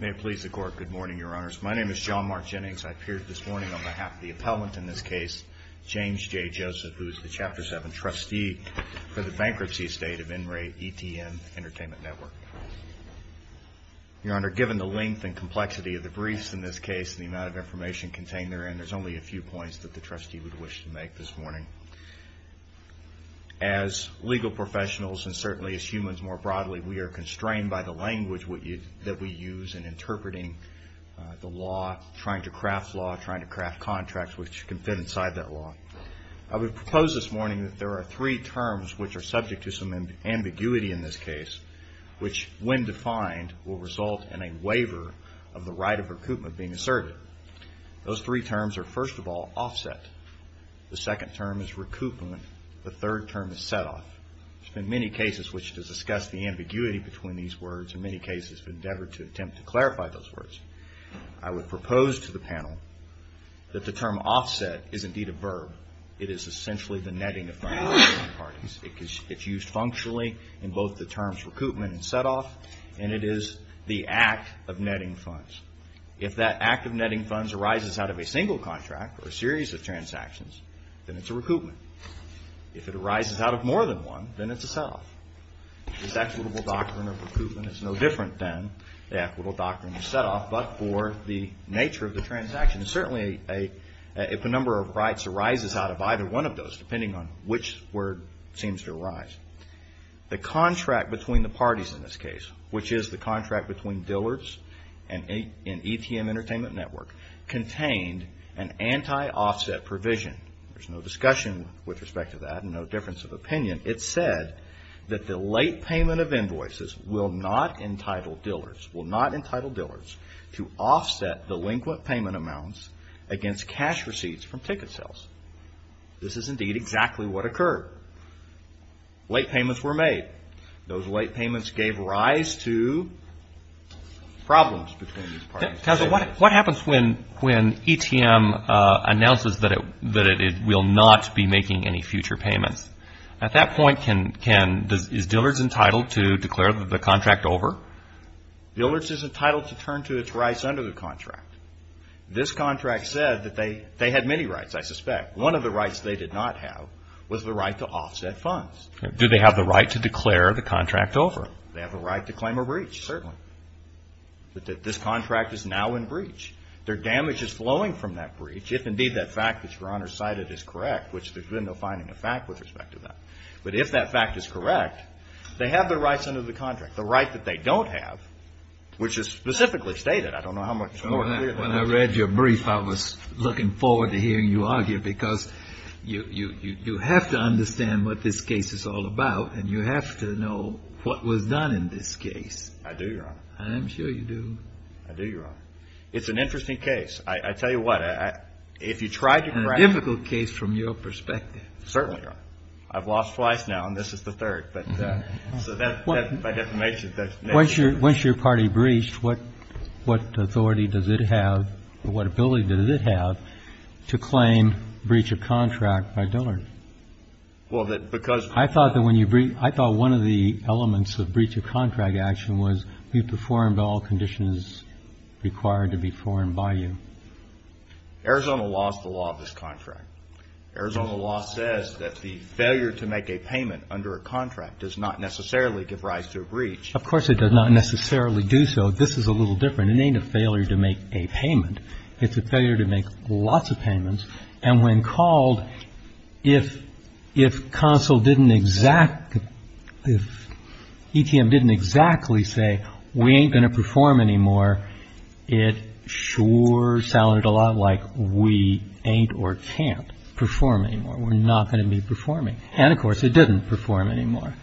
May it please the court, good morning, your honors. My name is John Mark Jennings. I appeared this morning on behalf of the appellant in this case, James J. Joseph, who is the Chapter 7 trustee for the bankruptcy estate of NREITN Entertainment Network. Your honor, given the length and complexity of the briefs in this case and the amount of information contained therein, there's only a few points that the trustee would wish to make this morning. As legal professionals and certainly as humans more broadly, we are constrained by the language that we use in interpreting the law, trying to craft law, trying to craft contracts which can fit inside that law. I would propose this morning that there are three terms which are subject to some ambiguity in this case, which when defined will result in a waiver of the right of recoupment being asserted. Those three terms are, first of all, offset. The second term is recoupment. The third term is set-off. There's been many cases which has discussed the ambiguity between these words and many cases have endeavored to attempt to clarify those words. I would propose to the panel that the term offset is indeed a verb. It is essentially the netting of funds between parties. It's used functionally in both the terms recoupment and set-off and it is the act of netting funds. If that act of netting funds arises out of a single contract or a series of transactions, then it's a recoupment. If it arises out of more than one, then it's a set-off. This equitable doctrine of recoupment is no different than the equitable doctrine of set-off but for the nature of the transaction. Certainly, if a number of rights arises out of either one of those, depending on which word seems to arise, the contract between the parties in this case, which is the contract between Dillard's and ETM Entertainment Network, contained an anti-offset provision. There's no discussion with respect to that and no difference of opinion. It said that the late payment of invoices will not entitle dealers to offset delinquent payment amounts against cash receipts from ticket sales. This is indeed exactly what occurred. Late payments were made. Those late payments gave rise to problems between these parties. What happens when ETM announces that it will not be making any future payments? At that point, is Dillard's entitled to declare the contract over? Dillard's is entitled to turn to its rights under the contract. This contract said that they had many rights, I suspect. One of the rights they did not have was the right to offset funds. Do they have the right to declare the contract over? They have the right to claim a breach. Certainly. But this contract is now in breach. Their damage is flowing from that breach, if indeed that fact that Your Honor cited is correct, which there's been no finding of fact with respect to that. But if that fact is correct, they have the rights under the contract. The right that they don't have, which is specifically stated, I don't know how much more clear that is. When I read your brief, I was looking forward to hearing you argue, because you have to understand what this case is all about, and you have to know what was done in this case. I do, Your Honor. I'm sure you do. I do, Your Honor. It's an interesting case. I tell you what, if you tried to crack it. It's a difficult case from your perspective. Certainly, Your Honor. I've lost twice now, and this is the third. Once your party breached, what authority does it have, what ability does it have to claim breach of contract by Dillard? I thought that when you breached, I thought one of the elements of breach of contract action was you performed all conditions required to be performed by you. Arizona lost the law of this contract. Arizona law says that the failure to make a payment under a contract does not necessarily give rise to a breach. Of course, it does not necessarily do so. This is a little different. It ain't a failure to make a payment. It's a failure to make lots of payments. And when called, if consul didn't exact, if ETM didn't exactly say, we ain't going to perform anymore, it sure sounded a lot like we ain't or can't perform anymore. We're not going to be performing. And, of course, it didn't perform anymore.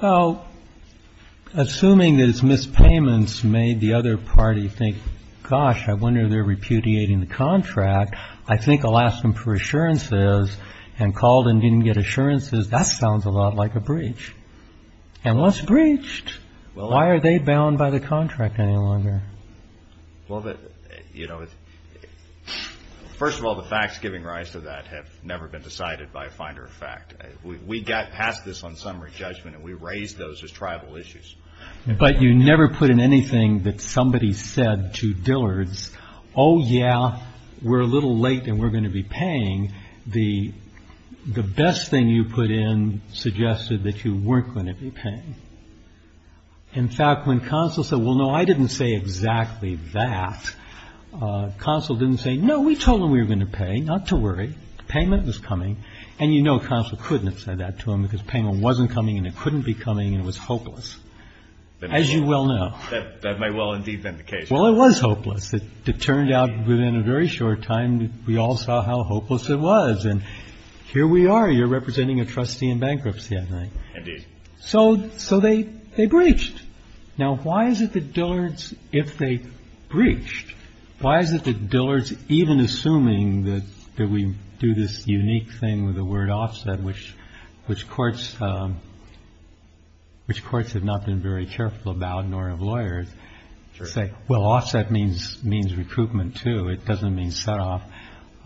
So, assuming that it's missed payments made the other party think, gosh, I wonder if they're repudiating the contract. I think I'll ask them for assurances. And called and didn't get assurances, that sounds a lot like a breach. And once breached, why are they bound by the contract any longer? Well, first of all, the facts giving rise to that have never been decided by a finder of fact. We got past this on summary judgment, and we raised those as tribal issues. But you never put in anything that somebody said to Dillard's, oh, yeah, we're a little late and we're going to be paying. The best thing you put in suggested that you weren't going to be paying. In fact, when consul said, well, no, I didn't say exactly that, consul didn't say, no, we told them we were going to pay. Not to worry. The payment was coming. And, you know, consul couldn't have said that to him because payment wasn't coming and it couldn't be coming and it was hopeless. As you well know. That may well indeed have been the case. Well, it was hopeless. It turned out within a very short time we all saw how hopeless it was. And here we are. You're representing a trustee in bankruptcy, I think. Indeed. So they breached. Now, why is it that Dillard's, if they breached, Why is it that Dillard's, even assuming that we do this unique thing with the word offset, which which courts which courts have not been very careful about, nor have lawyers say, well, offset means means recruitment, too. It doesn't mean set off.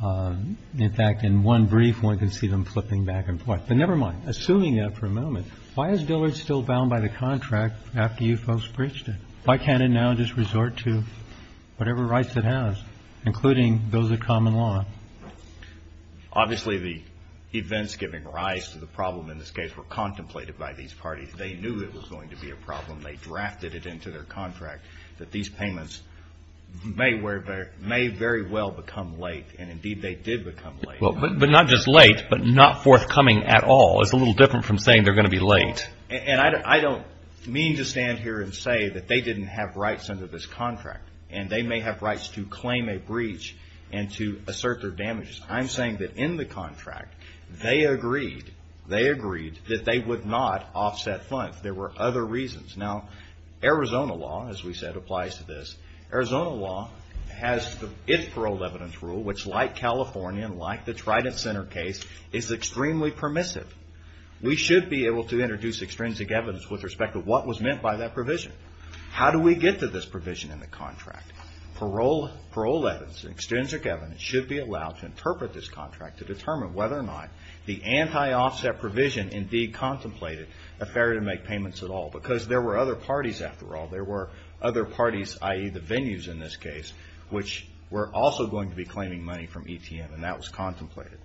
In fact, in one brief, one can see them flipping back and forth. But never mind. Assuming that for a moment, why is Dillard's still bound by the contract after you folks breached it? Why can't it now just resort to whatever rights it has, including those of common law? Obviously, the events giving rise to the problem in this case were contemplated by these parties. They knew it was going to be a problem. They drafted it into their contract that these payments may very well become late. And indeed, they did become late. But not just late, but not forthcoming at all. It's a little different from saying they're going to be late. And I don't mean to stand here and say that they didn't have rights under this contract, and they may have rights to claim a breach and to assert their damages. I'm saying that in the contract, they agreed, they agreed that they would not offset funds. There were other reasons. Now, Arizona law, as we said, applies to this. Arizona law has its paroled evidence rule, which, like California, like the Trident Center case, is extremely permissive. We should be able to introduce extrinsic evidence with respect to what was meant by that provision. How do we get to this provision in the contract? Paroled evidence, extrinsic evidence, should be allowed to interpret this contract to determine whether or not the anti-offset provision indeed contemplated a failure to make payments at all. Because there were other parties, after all. There were other parties, i.e. the venues in this case, which were also going to be claiming money from ETM, and that was contemplated.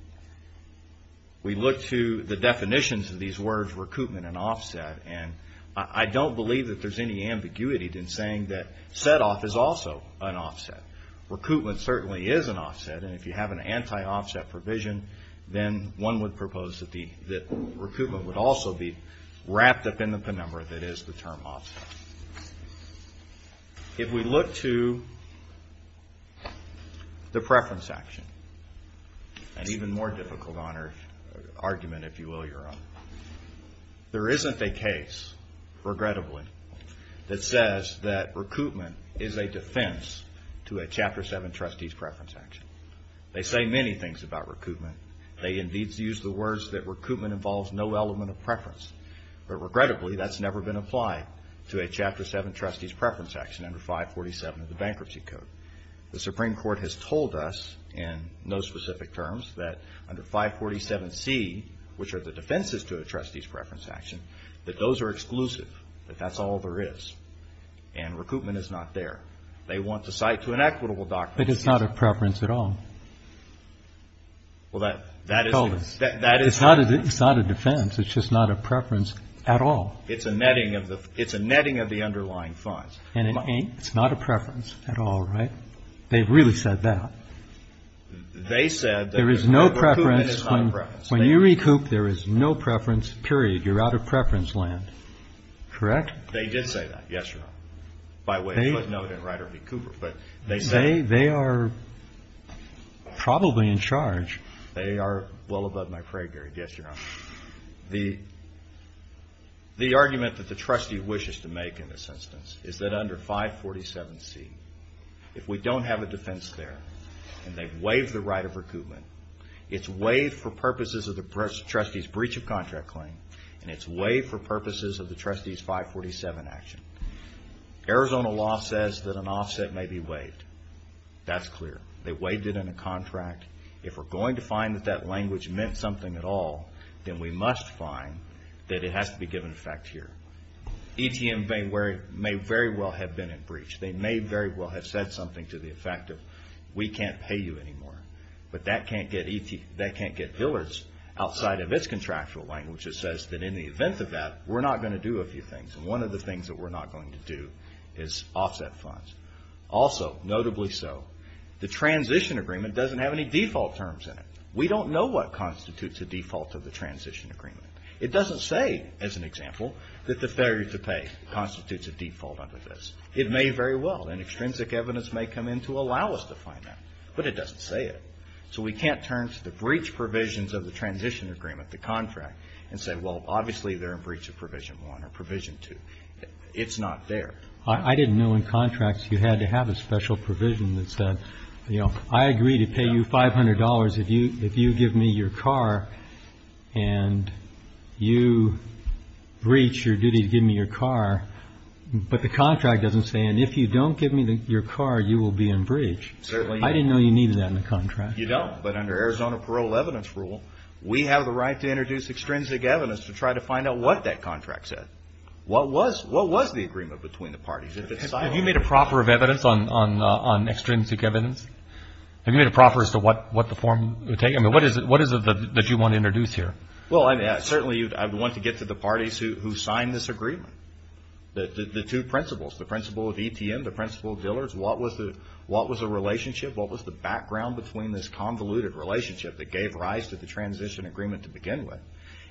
We look to the definitions of these words, recoupment and offset, and I don't believe that there's any ambiguity in saying that set-off is also an offset. Recoupment certainly is an offset, and if you have an anti-offset provision, then one would propose that recoupment would also be wrapped up in the penumbra that is the term offset. If we look to the preference action, an even more difficult argument, if you will, Your Honor, there isn't a case, regrettably, that says that recoupment is a defense to a Chapter 7 trustee's preference action. They say many things about recoupment. They indeed use the words that recoupment involves no element of preference. But regrettably, that's never been applied to a Chapter 7 trustee's preference action under 547 of the Bankruptcy Code. The Supreme Court has told us in no specific terms that under 547C, which are the defenses to a trustee's preference action, that those are exclusive, that that's all there is, and recoupment is not there. They want to cite to an equitable document. But it's not a preference at all. Well, that is a defense. It's just not a preference at all. It's a netting of the underlying funds. And it's not a preference at all, right? They've really said that. They said that recoupment is not a preference. When you recoup, there is no preference, period. You're out of preference land. Correct? They did say that, yes, Your Honor. By way of footnote and right of recouper. But they said it. They are probably in charge. They are well above my prey, Gary. Yes, Your Honor. The argument that the trustee wishes to make in this instance is that under 547C, if we don't have a defense there and they waive the right of recoupment, it's waived for purposes of the trustee's breach of contract claim and it's waived for purposes of the trustee's 547 action. Arizona law says that an offset may be waived. That's clear. They waived it in a contract. If we're going to find that that language meant something at all, then we must find that it has to be given effect here. ETM may very well have been in breach. They may very well have said something to the effect of we can't pay you anymore. But that can't get billers outside of its contractual language. It says that in the event of that, we're not going to do a few things. And one of the things that we're not going to do is offset funds. Also, notably so, the transition agreement doesn't have any default terms in it. We don't know what constitutes a default of the transition agreement. It doesn't say, as an example, that the failure to pay constitutes a default under this. It may very well. And extrinsic evidence may come in to allow us to find that. But it doesn't say it. So we can't turn to the breach provisions of the transition agreement, the contract, and say, well, obviously they're in breach of Provision 1 or Provision 2. It's not there. I didn't know in contracts you had to have a special provision that said, you know, I agree to pay you $500 if you give me your car and you breach your duty to give me your car. But the contract doesn't say, and if you don't give me your car, you will be in breach. I didn't know you needed that in the contract. You don't. But under Arizona Parole Evidence Rule, we have the right to introduce extrinsic evidence to try to find out what that contract said. What was the agreement between the parties? Have you made a proffer of evidence on extrinsic evidence? Have you made a proffer as to what the form would take? I mean, what is it that you want to introduce here? Well, certainly I would want to get to the parties who signed this agreement, the two principals, the principal of ETM, the principal of Dillard's. What was the relationship? What was the background between this convoluted relationship that gave rise to the transition agreement to begin with?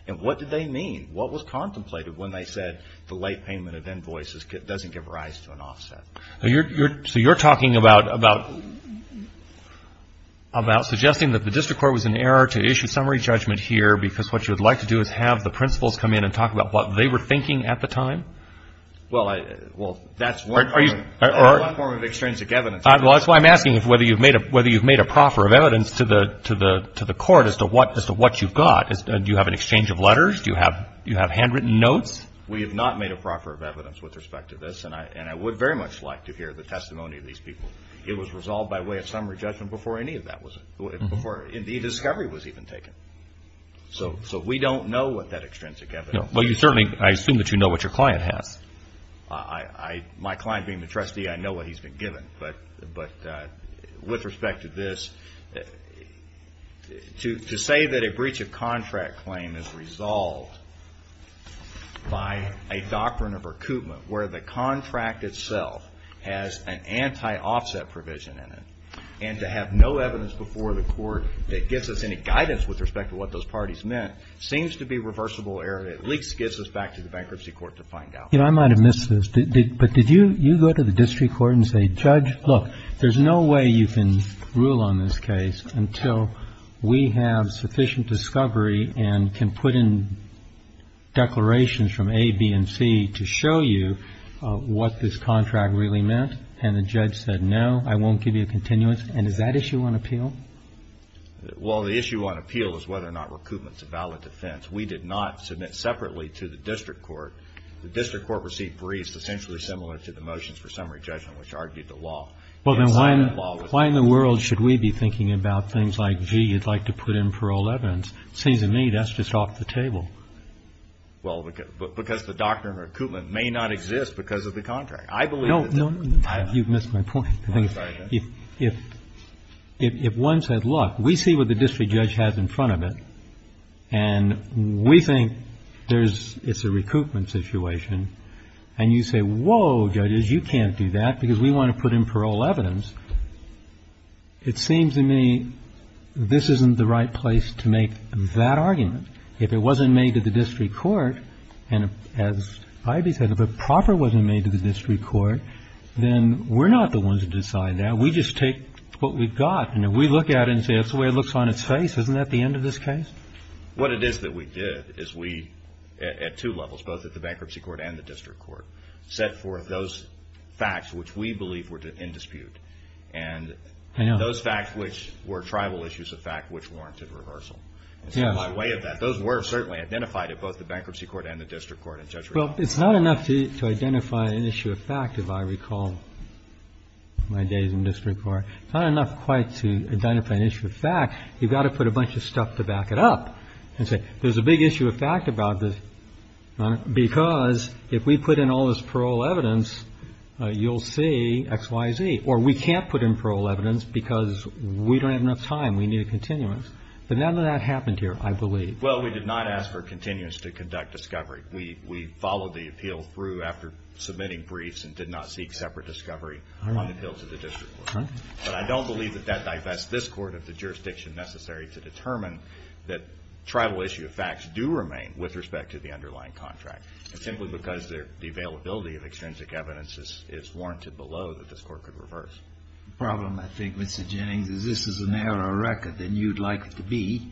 And what did they mean? What was contemplated when they said the late payment of invoices doesn't give rise to an offset? So you're talking about suggesting that the district court was in error to issue summary judgment here because what you would like to do is have the principals come in and talk about what they were thinking at the time? Well, that's one form of extrinsic evidence. Well, that's why I'm asking whether you've made a proffer of evidence to the court as to what you've got. Do you have an exchange of letters? Do you have handwritten notes? We have not made a proffer of evidence with respect to this, and I would very much like to hear the testimony of these people. It was resolved by way of summary judgment before any of that was, before the discovery was even taken. So we don't know what that extrinsic evidence is. Well, you certainly, I assume that you know what your client has. My client being the trustee, I know what he's been given. But with respect to this, to say that a breach of contract claim is resolved by a doctrine of recoupment where the contract itself has an anti-offset provision in it, and to have no evidence before the court that gives us any guidance with respect to what those parties meant, seems to be reversible error that at least gets us back to the bankruptcy court to find out. You know, I might have missed this, but did you go to the district court and say, Judge, look, there's no way you can rule on this case until we have sufficient discovery and can put in declarations from A, B, and C to show you what this contract really meant. And the judge said, no, I won't give you a continuance. And is that issue on appeal? Well, the issue on appeal is whether or not recoupment is a valid offense. We did not submit separately to the district court. The district court received briefs essentially similar to the motions for summary judgment, which argued the law. Well, then why in the world should we be thinking about things like, gee, you'd like to put in parole evidence? It seems to me that's just off the table. Well, because the doctrine of recoupment may not exist because of the contract. I believe that the doctrine of recoupment is valid. No, no, you've missed my point. I'm sorry, Judge. If one said, look, we see what the district judge has in front of it, and we think it's a recoupment situation, and you say, whoa, judges, you can't do that because we want to put in parole evidence, it seems to me this isn't the right place to make that argument. If it wasn't made to the district court, and as I.B. said, if it proper wasn't made to the district court, then we're not the ones to decide that. We just take what we've got. And if we look at it and say that's the way it looks on its face, isn't that the end of this case? What it is that we did is we, at two levels, both at the bankruptcy court and the district court, set forth those facts which we believe were in dispute. And those facts which were tribal issues of fact which warranted reversal. And so by way of that, those were certainly identified at both the bankruptcy court and the district court. Well, it's not enough to identify an issue of fact, if I recall my days in district court. It's not enough quite to identify an issue of fact. You've got to put a bunch of stuff to back it up and say there's a big issue of fact about this because if we put in all this parole evidence, you'll see X, Y, Z. Or we can't put in parole evidence because we don't have enough time. We need a continuance. But none of that happened here, I believe. Well, we did not ask for a continuance to conduct discovery. We followed the appeal through after submitting briefs and did not seek separate discovery on the bills of the district court. All right. But I don't believe that that divests this Court of the jurisdiction necessary to determine that tribal issue of facts do remain with respect to the underlying contract, simply because the availability of extrinsic evidence is warranted below that this Court could reverse. The problem, I think, Mr. Jennings, is this is a narrower record than you'd like it to be.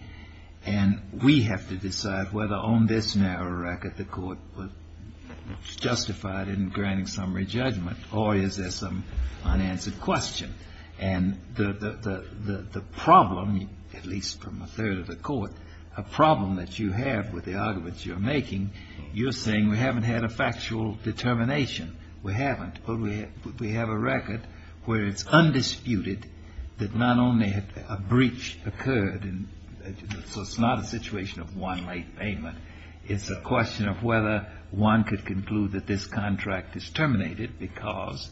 And we have to decide whether on this narrow record the Court would justify it in an unanswered question. And the problem, at least from a third of the Court, a problem that you have with the arguments you're making, you're saying we haven't had a factual determination. We haven't. But we have a record where it's undisputed that not only had a breach occurred and so it's not a situation of one late payment. It's a question of whether one could conclude that this contract is terminated because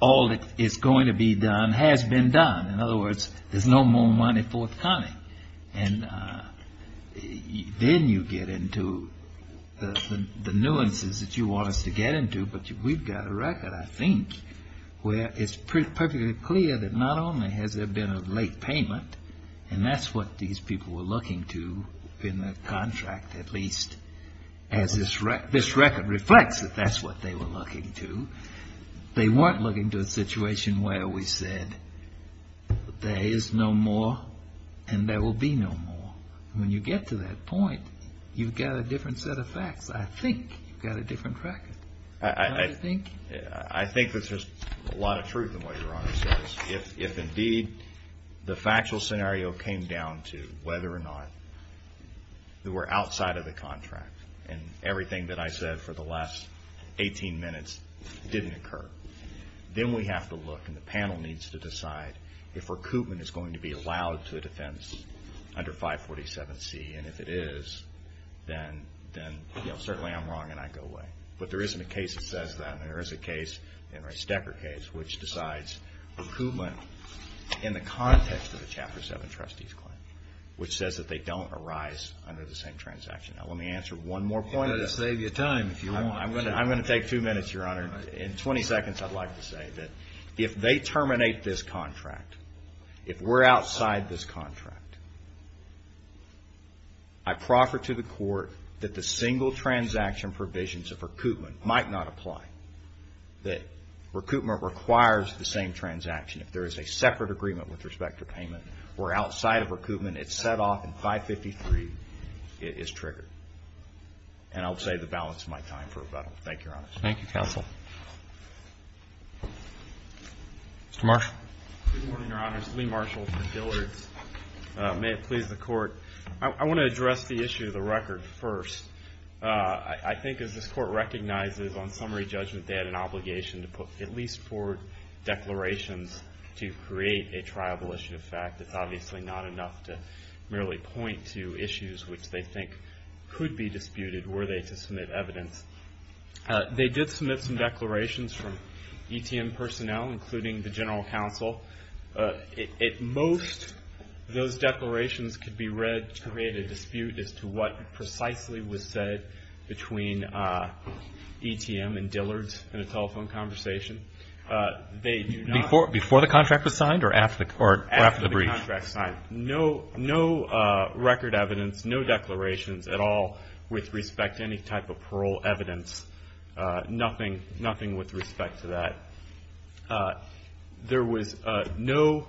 all that is going to be done has been done. In other words, there's no more money forthcoming. And then you get into the nuances that you want us to get into. But we've got a record, I think, where it's perfectly clear that not only has there been a late payment, and that's what these people were looking to in the contract, at least, as this record reflects that that's what they were looking to, they weren't looking to a situation where we said there is no more and there will be no more. When you get to that point, you've got a different set of facts. I think you've got a different record. I think there's a lot of truth in what Your Honor says. If indeed the factual scenario came down to whether or not we're outside of the contract, didn't occur, then we have to look and the panel needs to decide if recoupment is going to be allowed to a defense under 547C. And if it is, then certainly I'm wrong and I go away. But there isn't a case that says that. There is a case, the Henry Stecker case, which decides recoupment in the context of a Chapter 7 trustee's claim, which says that they don't arise under the same transaction. Now let me answer one more point. I'm going to take two minutes, Your Honor. In 20 seconds I'd like to say that if they terminate this contract, if we're outside this contract, I proffer to the court that the single transaction provisions of recoupment might not apply. That recoupment requires the same transaction. If there is a separate agreement with respect to payment, we're outside of recoupment, it's set off in 553, it is triggered. And I'll save the balance of my time for rebuttal. Thank you, Your Honor. Thank you, Counsel. Mr. Marshall. Good morning, Your Honors. Lee Marshall for Dillard's. May it please the Court. I want to address the issue of the record first. I think as this Court recognizes on summary judgment they had an obligation to put at least four declarations to create a triable issue of fact. It's obviously not enough to merely point to issues which they think could be disputed were they to submit evidence. They did submit some declarations from ETM personnel, including the general counsel. At most, those declarations could be read to create a dispute as to what precisely was said between ETM and Dillard's in a telephone conversation. Before the contract was signed or after the brief? After the contract was signed. No record evidence, no declarations at all with respect to any type of parole evidence. Nothing with respect to that. There was no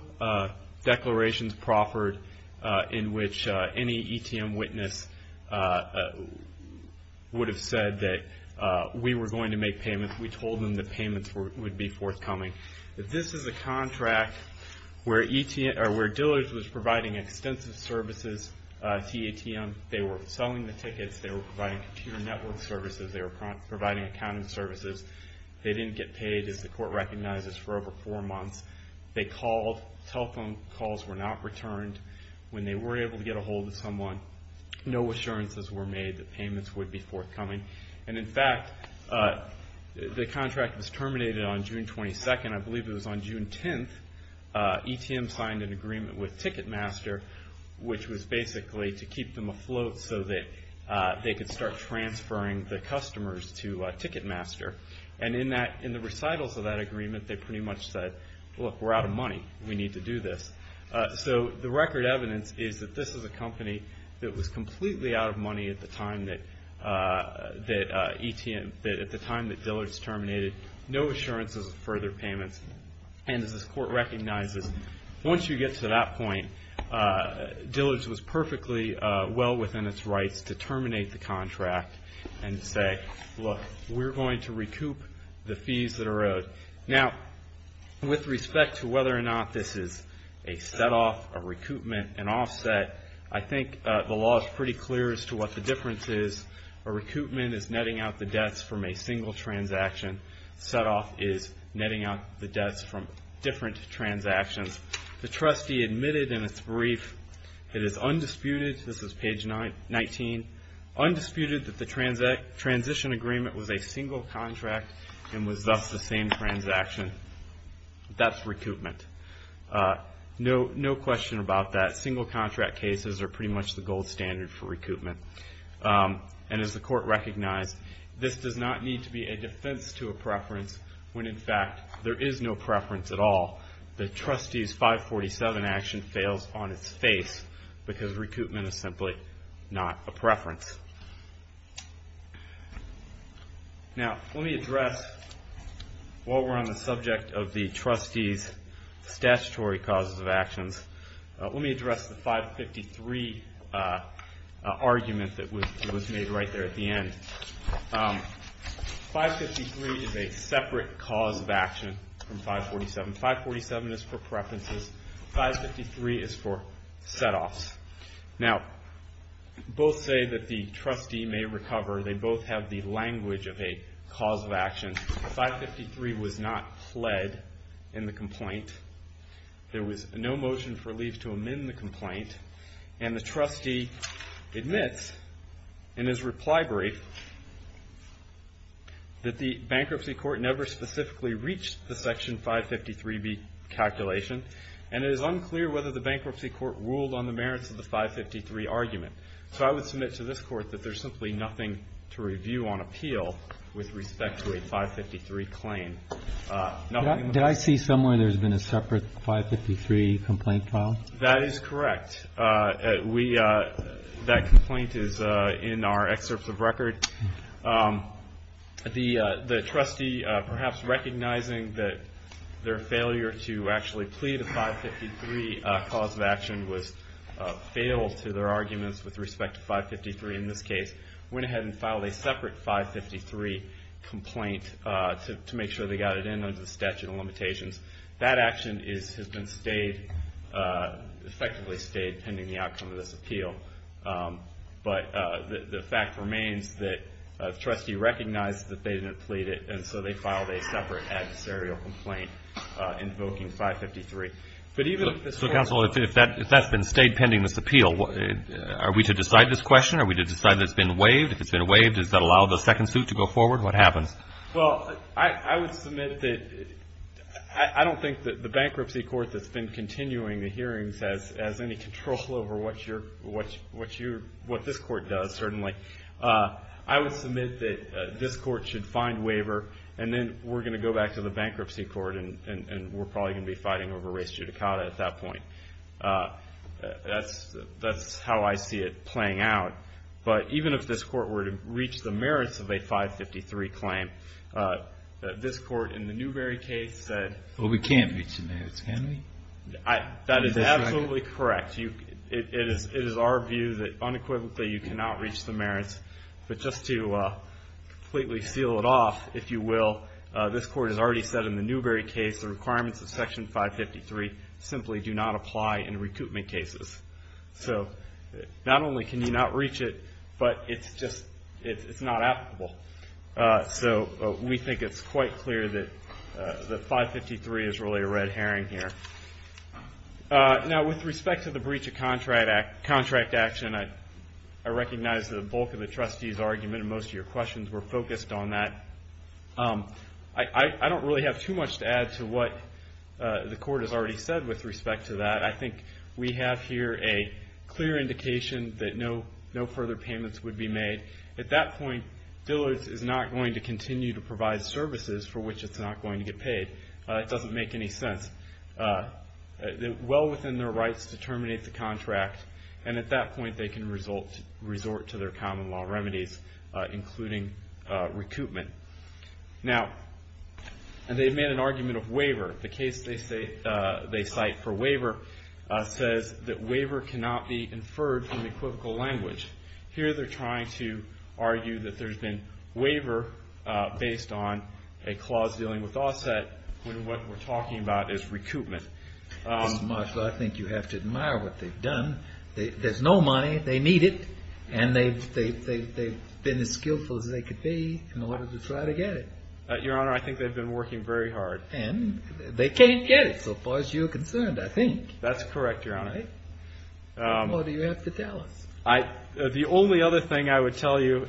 declarations proffered in which any ETM witness would have said that we were going to make payments. We told them that payments would be forthcoming. This is a contract where Dillard's was providing extensive services to ETM. They were selling the tickets. They were providing computer network services. They were providing accounting services. They didn't get paid, as the Court recognizes, for over four months. They called. Telephone calls were not returned. When they were able to get a hold of someone, no assurances were made that payments would be forthcoming. In fact, the contract was terminated on June 22nd. I believe it was on June 10th. ETM signed an agreement with Ticketmaster, which was basically to keep them afloat so that they could start transferring the customers to Ticketmaster. In the recitals of that agreement, they pretty much said, look, we're out of money. We need to do this. At the time that Dillard's terminated, no assurances of further payments. As this Court recognizes, once you get to that point, Dillard's was perfectly well within its rights to terminate the contract and say, look, we're going to recoup the fees that are owed. Now, with respect to whether or not this is a setoff, a recoupment, an offset, I think the law is pretty clear as to what the difference is. A recoupment is netting out the debts from a single transaction. Setoff is netting out the debts from different transactions. The trustee admitted in its brief, it is undisputed, this is page 19, undisputed that the transition agreement was a single contract and was thus the same transaction. That's recoupment. No question about that. Single contract cases are pretty much the gold standard for recoupment. As the Court recognized, this does not need to be a defense to a preference when, in fact, there is no preference at all. The trustee's 547 action fails on its face because recoupment is simply not a preference. Now, let me address, while we're on the subject of the trustee's statutory causes of actions, let me address the 553 argument that was made right there at the end. 553 is a separate cause of action from 547. 547 is for preferences. 553 is for setoffs. Now, both say that the trustee may recover. They both have the language of a cause of action. 553 was not pled in the complaint. There was no motion for leave to amend the complaint. And the trustee admits in his reply brief that the bankruptcy court never specifically reached the Section 553B calculation, and it is unclear whether the bankruptcy court ruled on the merits of the 553 argument. So I would submit to this Court that there's simply nothing to review on appeal with respect to a 553 claim. Did I see somewhere there's been a separate 553 complaint filed? That is correct. That complaint is in our excerpts of record. The trustee, perhaps recognizing that their failure to actually plead a 553 cause of action failed to their arguments with respect to 553 in this case, went ahead and filed a separate 553 complaint to make sure they got it in under the statute of limitations. That action has been effectively stayed pending the outcome of this appeal. But the fact remains that the trustee recognized that they didn't plead it, and so they filed a separate adversarial complaint invoking 553. So, counsel, if that's been stayed pending this appeal, are we to decide this has been waived? If it's been waived, does that allow the second suit to go forward? What happens? Well, I would submit that I don't think that the bankruptcy court that's been continuing the hearings has any control over what this Court does, certainly. I would submit that this Court should find waiver, and then we're going to go back to the bankruptcy court, and we're probably going to be fighting over race judicata at that point. That's how I see it playing out. But even if this Court were to reach the merits of a 553 claim, this Court, in the Newberry case, said... Well, we can't reach the merits, can we? That is absolutely correct. It is our view that unequivocally you cannot reach the merits. But just to completely seal it off, if you will, this Court has already said in the Newberry case the requirements of Section 553 simply do not apply in recoupment cases. So not only can you not reach it, but it's just not applicable. So we think it's quite clear that 553 is really a red herring here. Now, with respect to the breach of contract action, I recognize the bulk of the trustees' argument and most of your questions were focused on that. I don't really have too much to add to what the Court has already said with respect to that. I think we have here a clear indication that no further payments would be made. At that point, Dillard's is not going to continue to provide services for which it's not going to get paid. It doesn't make any sense. Well within their rights to terminate the contract, and at that point they can resort to their common law remedies, including recoupment. Now, they've made an argument of waiver. The case they cite for waiver says that waiver cannot be inferred from the equivocal language. Here they're trying to argue that there's been waiver based on a clause dealing with offset when what we're talking about is recoupment. Mr. Marshall, I think you have to admire what they've done. There's no money. They need it, and they've been as skillful as they could be in order to try to get it. Your Honor, I think they've been working very hard. And they can't get it so far as you're concerned, I think. That's correct, Your Honor. What do you have to tell us? The only other thing I would tell you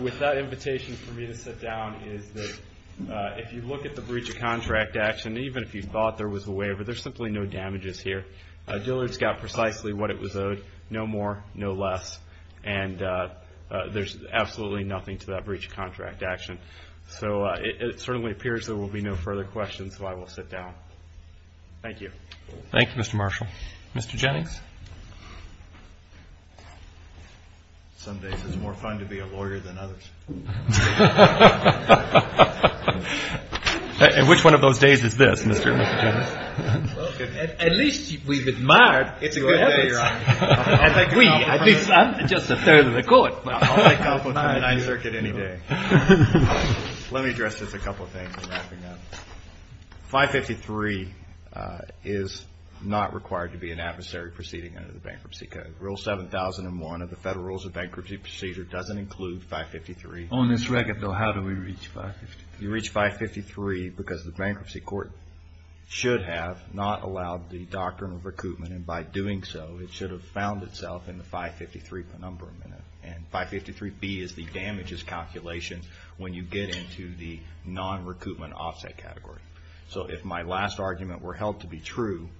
with that invitation for me to sit down is that if you look at the breach of contract action, even if you thought there was a waiver, there's simply no damages here. Dillard's got precisely what it was owed, no more, no less. And there's absolutely nothing to that breach of contract action. So it certainly appears there will be no further questions, so I will sit down. Thank you. Thank you, Mr. Marshall. Mr. Jennings? Some days it's more fun to be a lawyer than others. And which one of those days is this, Mr. Jennings? Well, at least we've admired your efforts. It's a good day, Your Honor. At least I'm just a third of the court. Let me address just a couple of things. 553 is not required to be an adversary proceeding under the Bankruptcy Code. Rule 7001 of the Federal Rules of Bankruptcy Procedure doesn't include 553. On this record, though, how do we reach 553? You reach 553 because the bankruptcy court should have not allowed the doctrine of recoupment. And by doing so, it should have found itself in the 553 penumbra. And 553B is the damages calculation when you get into the non-recoupment offset category. So if my last argument were held to be true,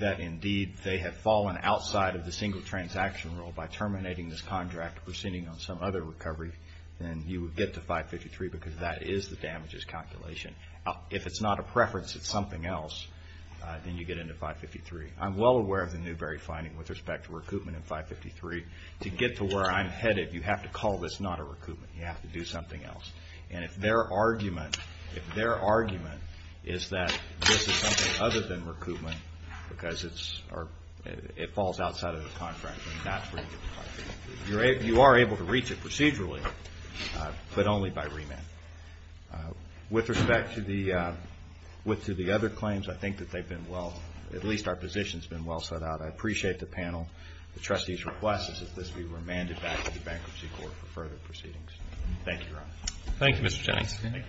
that indeed they have fallen outside of the single transaction rule by terminating this contract, proceeding on some other recovery, then you would get to 553 because that is the damages calculation. If it's not a preference, it's something else, then you get into 553. I'm well aware of the Newbery finding with respect to recoupment in 553. To get to where I'm headed, you have to call this not a recoupment. You have to do something else. And if their argument is that this is something other than recoupment because it falls outside of the contract, then that's where you get in trouble. You are able to reach it procedurally, but only by remand. With respect to the other claims, I think that they've been well—at least our position's been well set out. I appreciate the panel, the trustees' request that this be remanded back to the Bankruptcy Court for further proceedings. Thank you, Your Honor. Thank you, Mr. Jennings.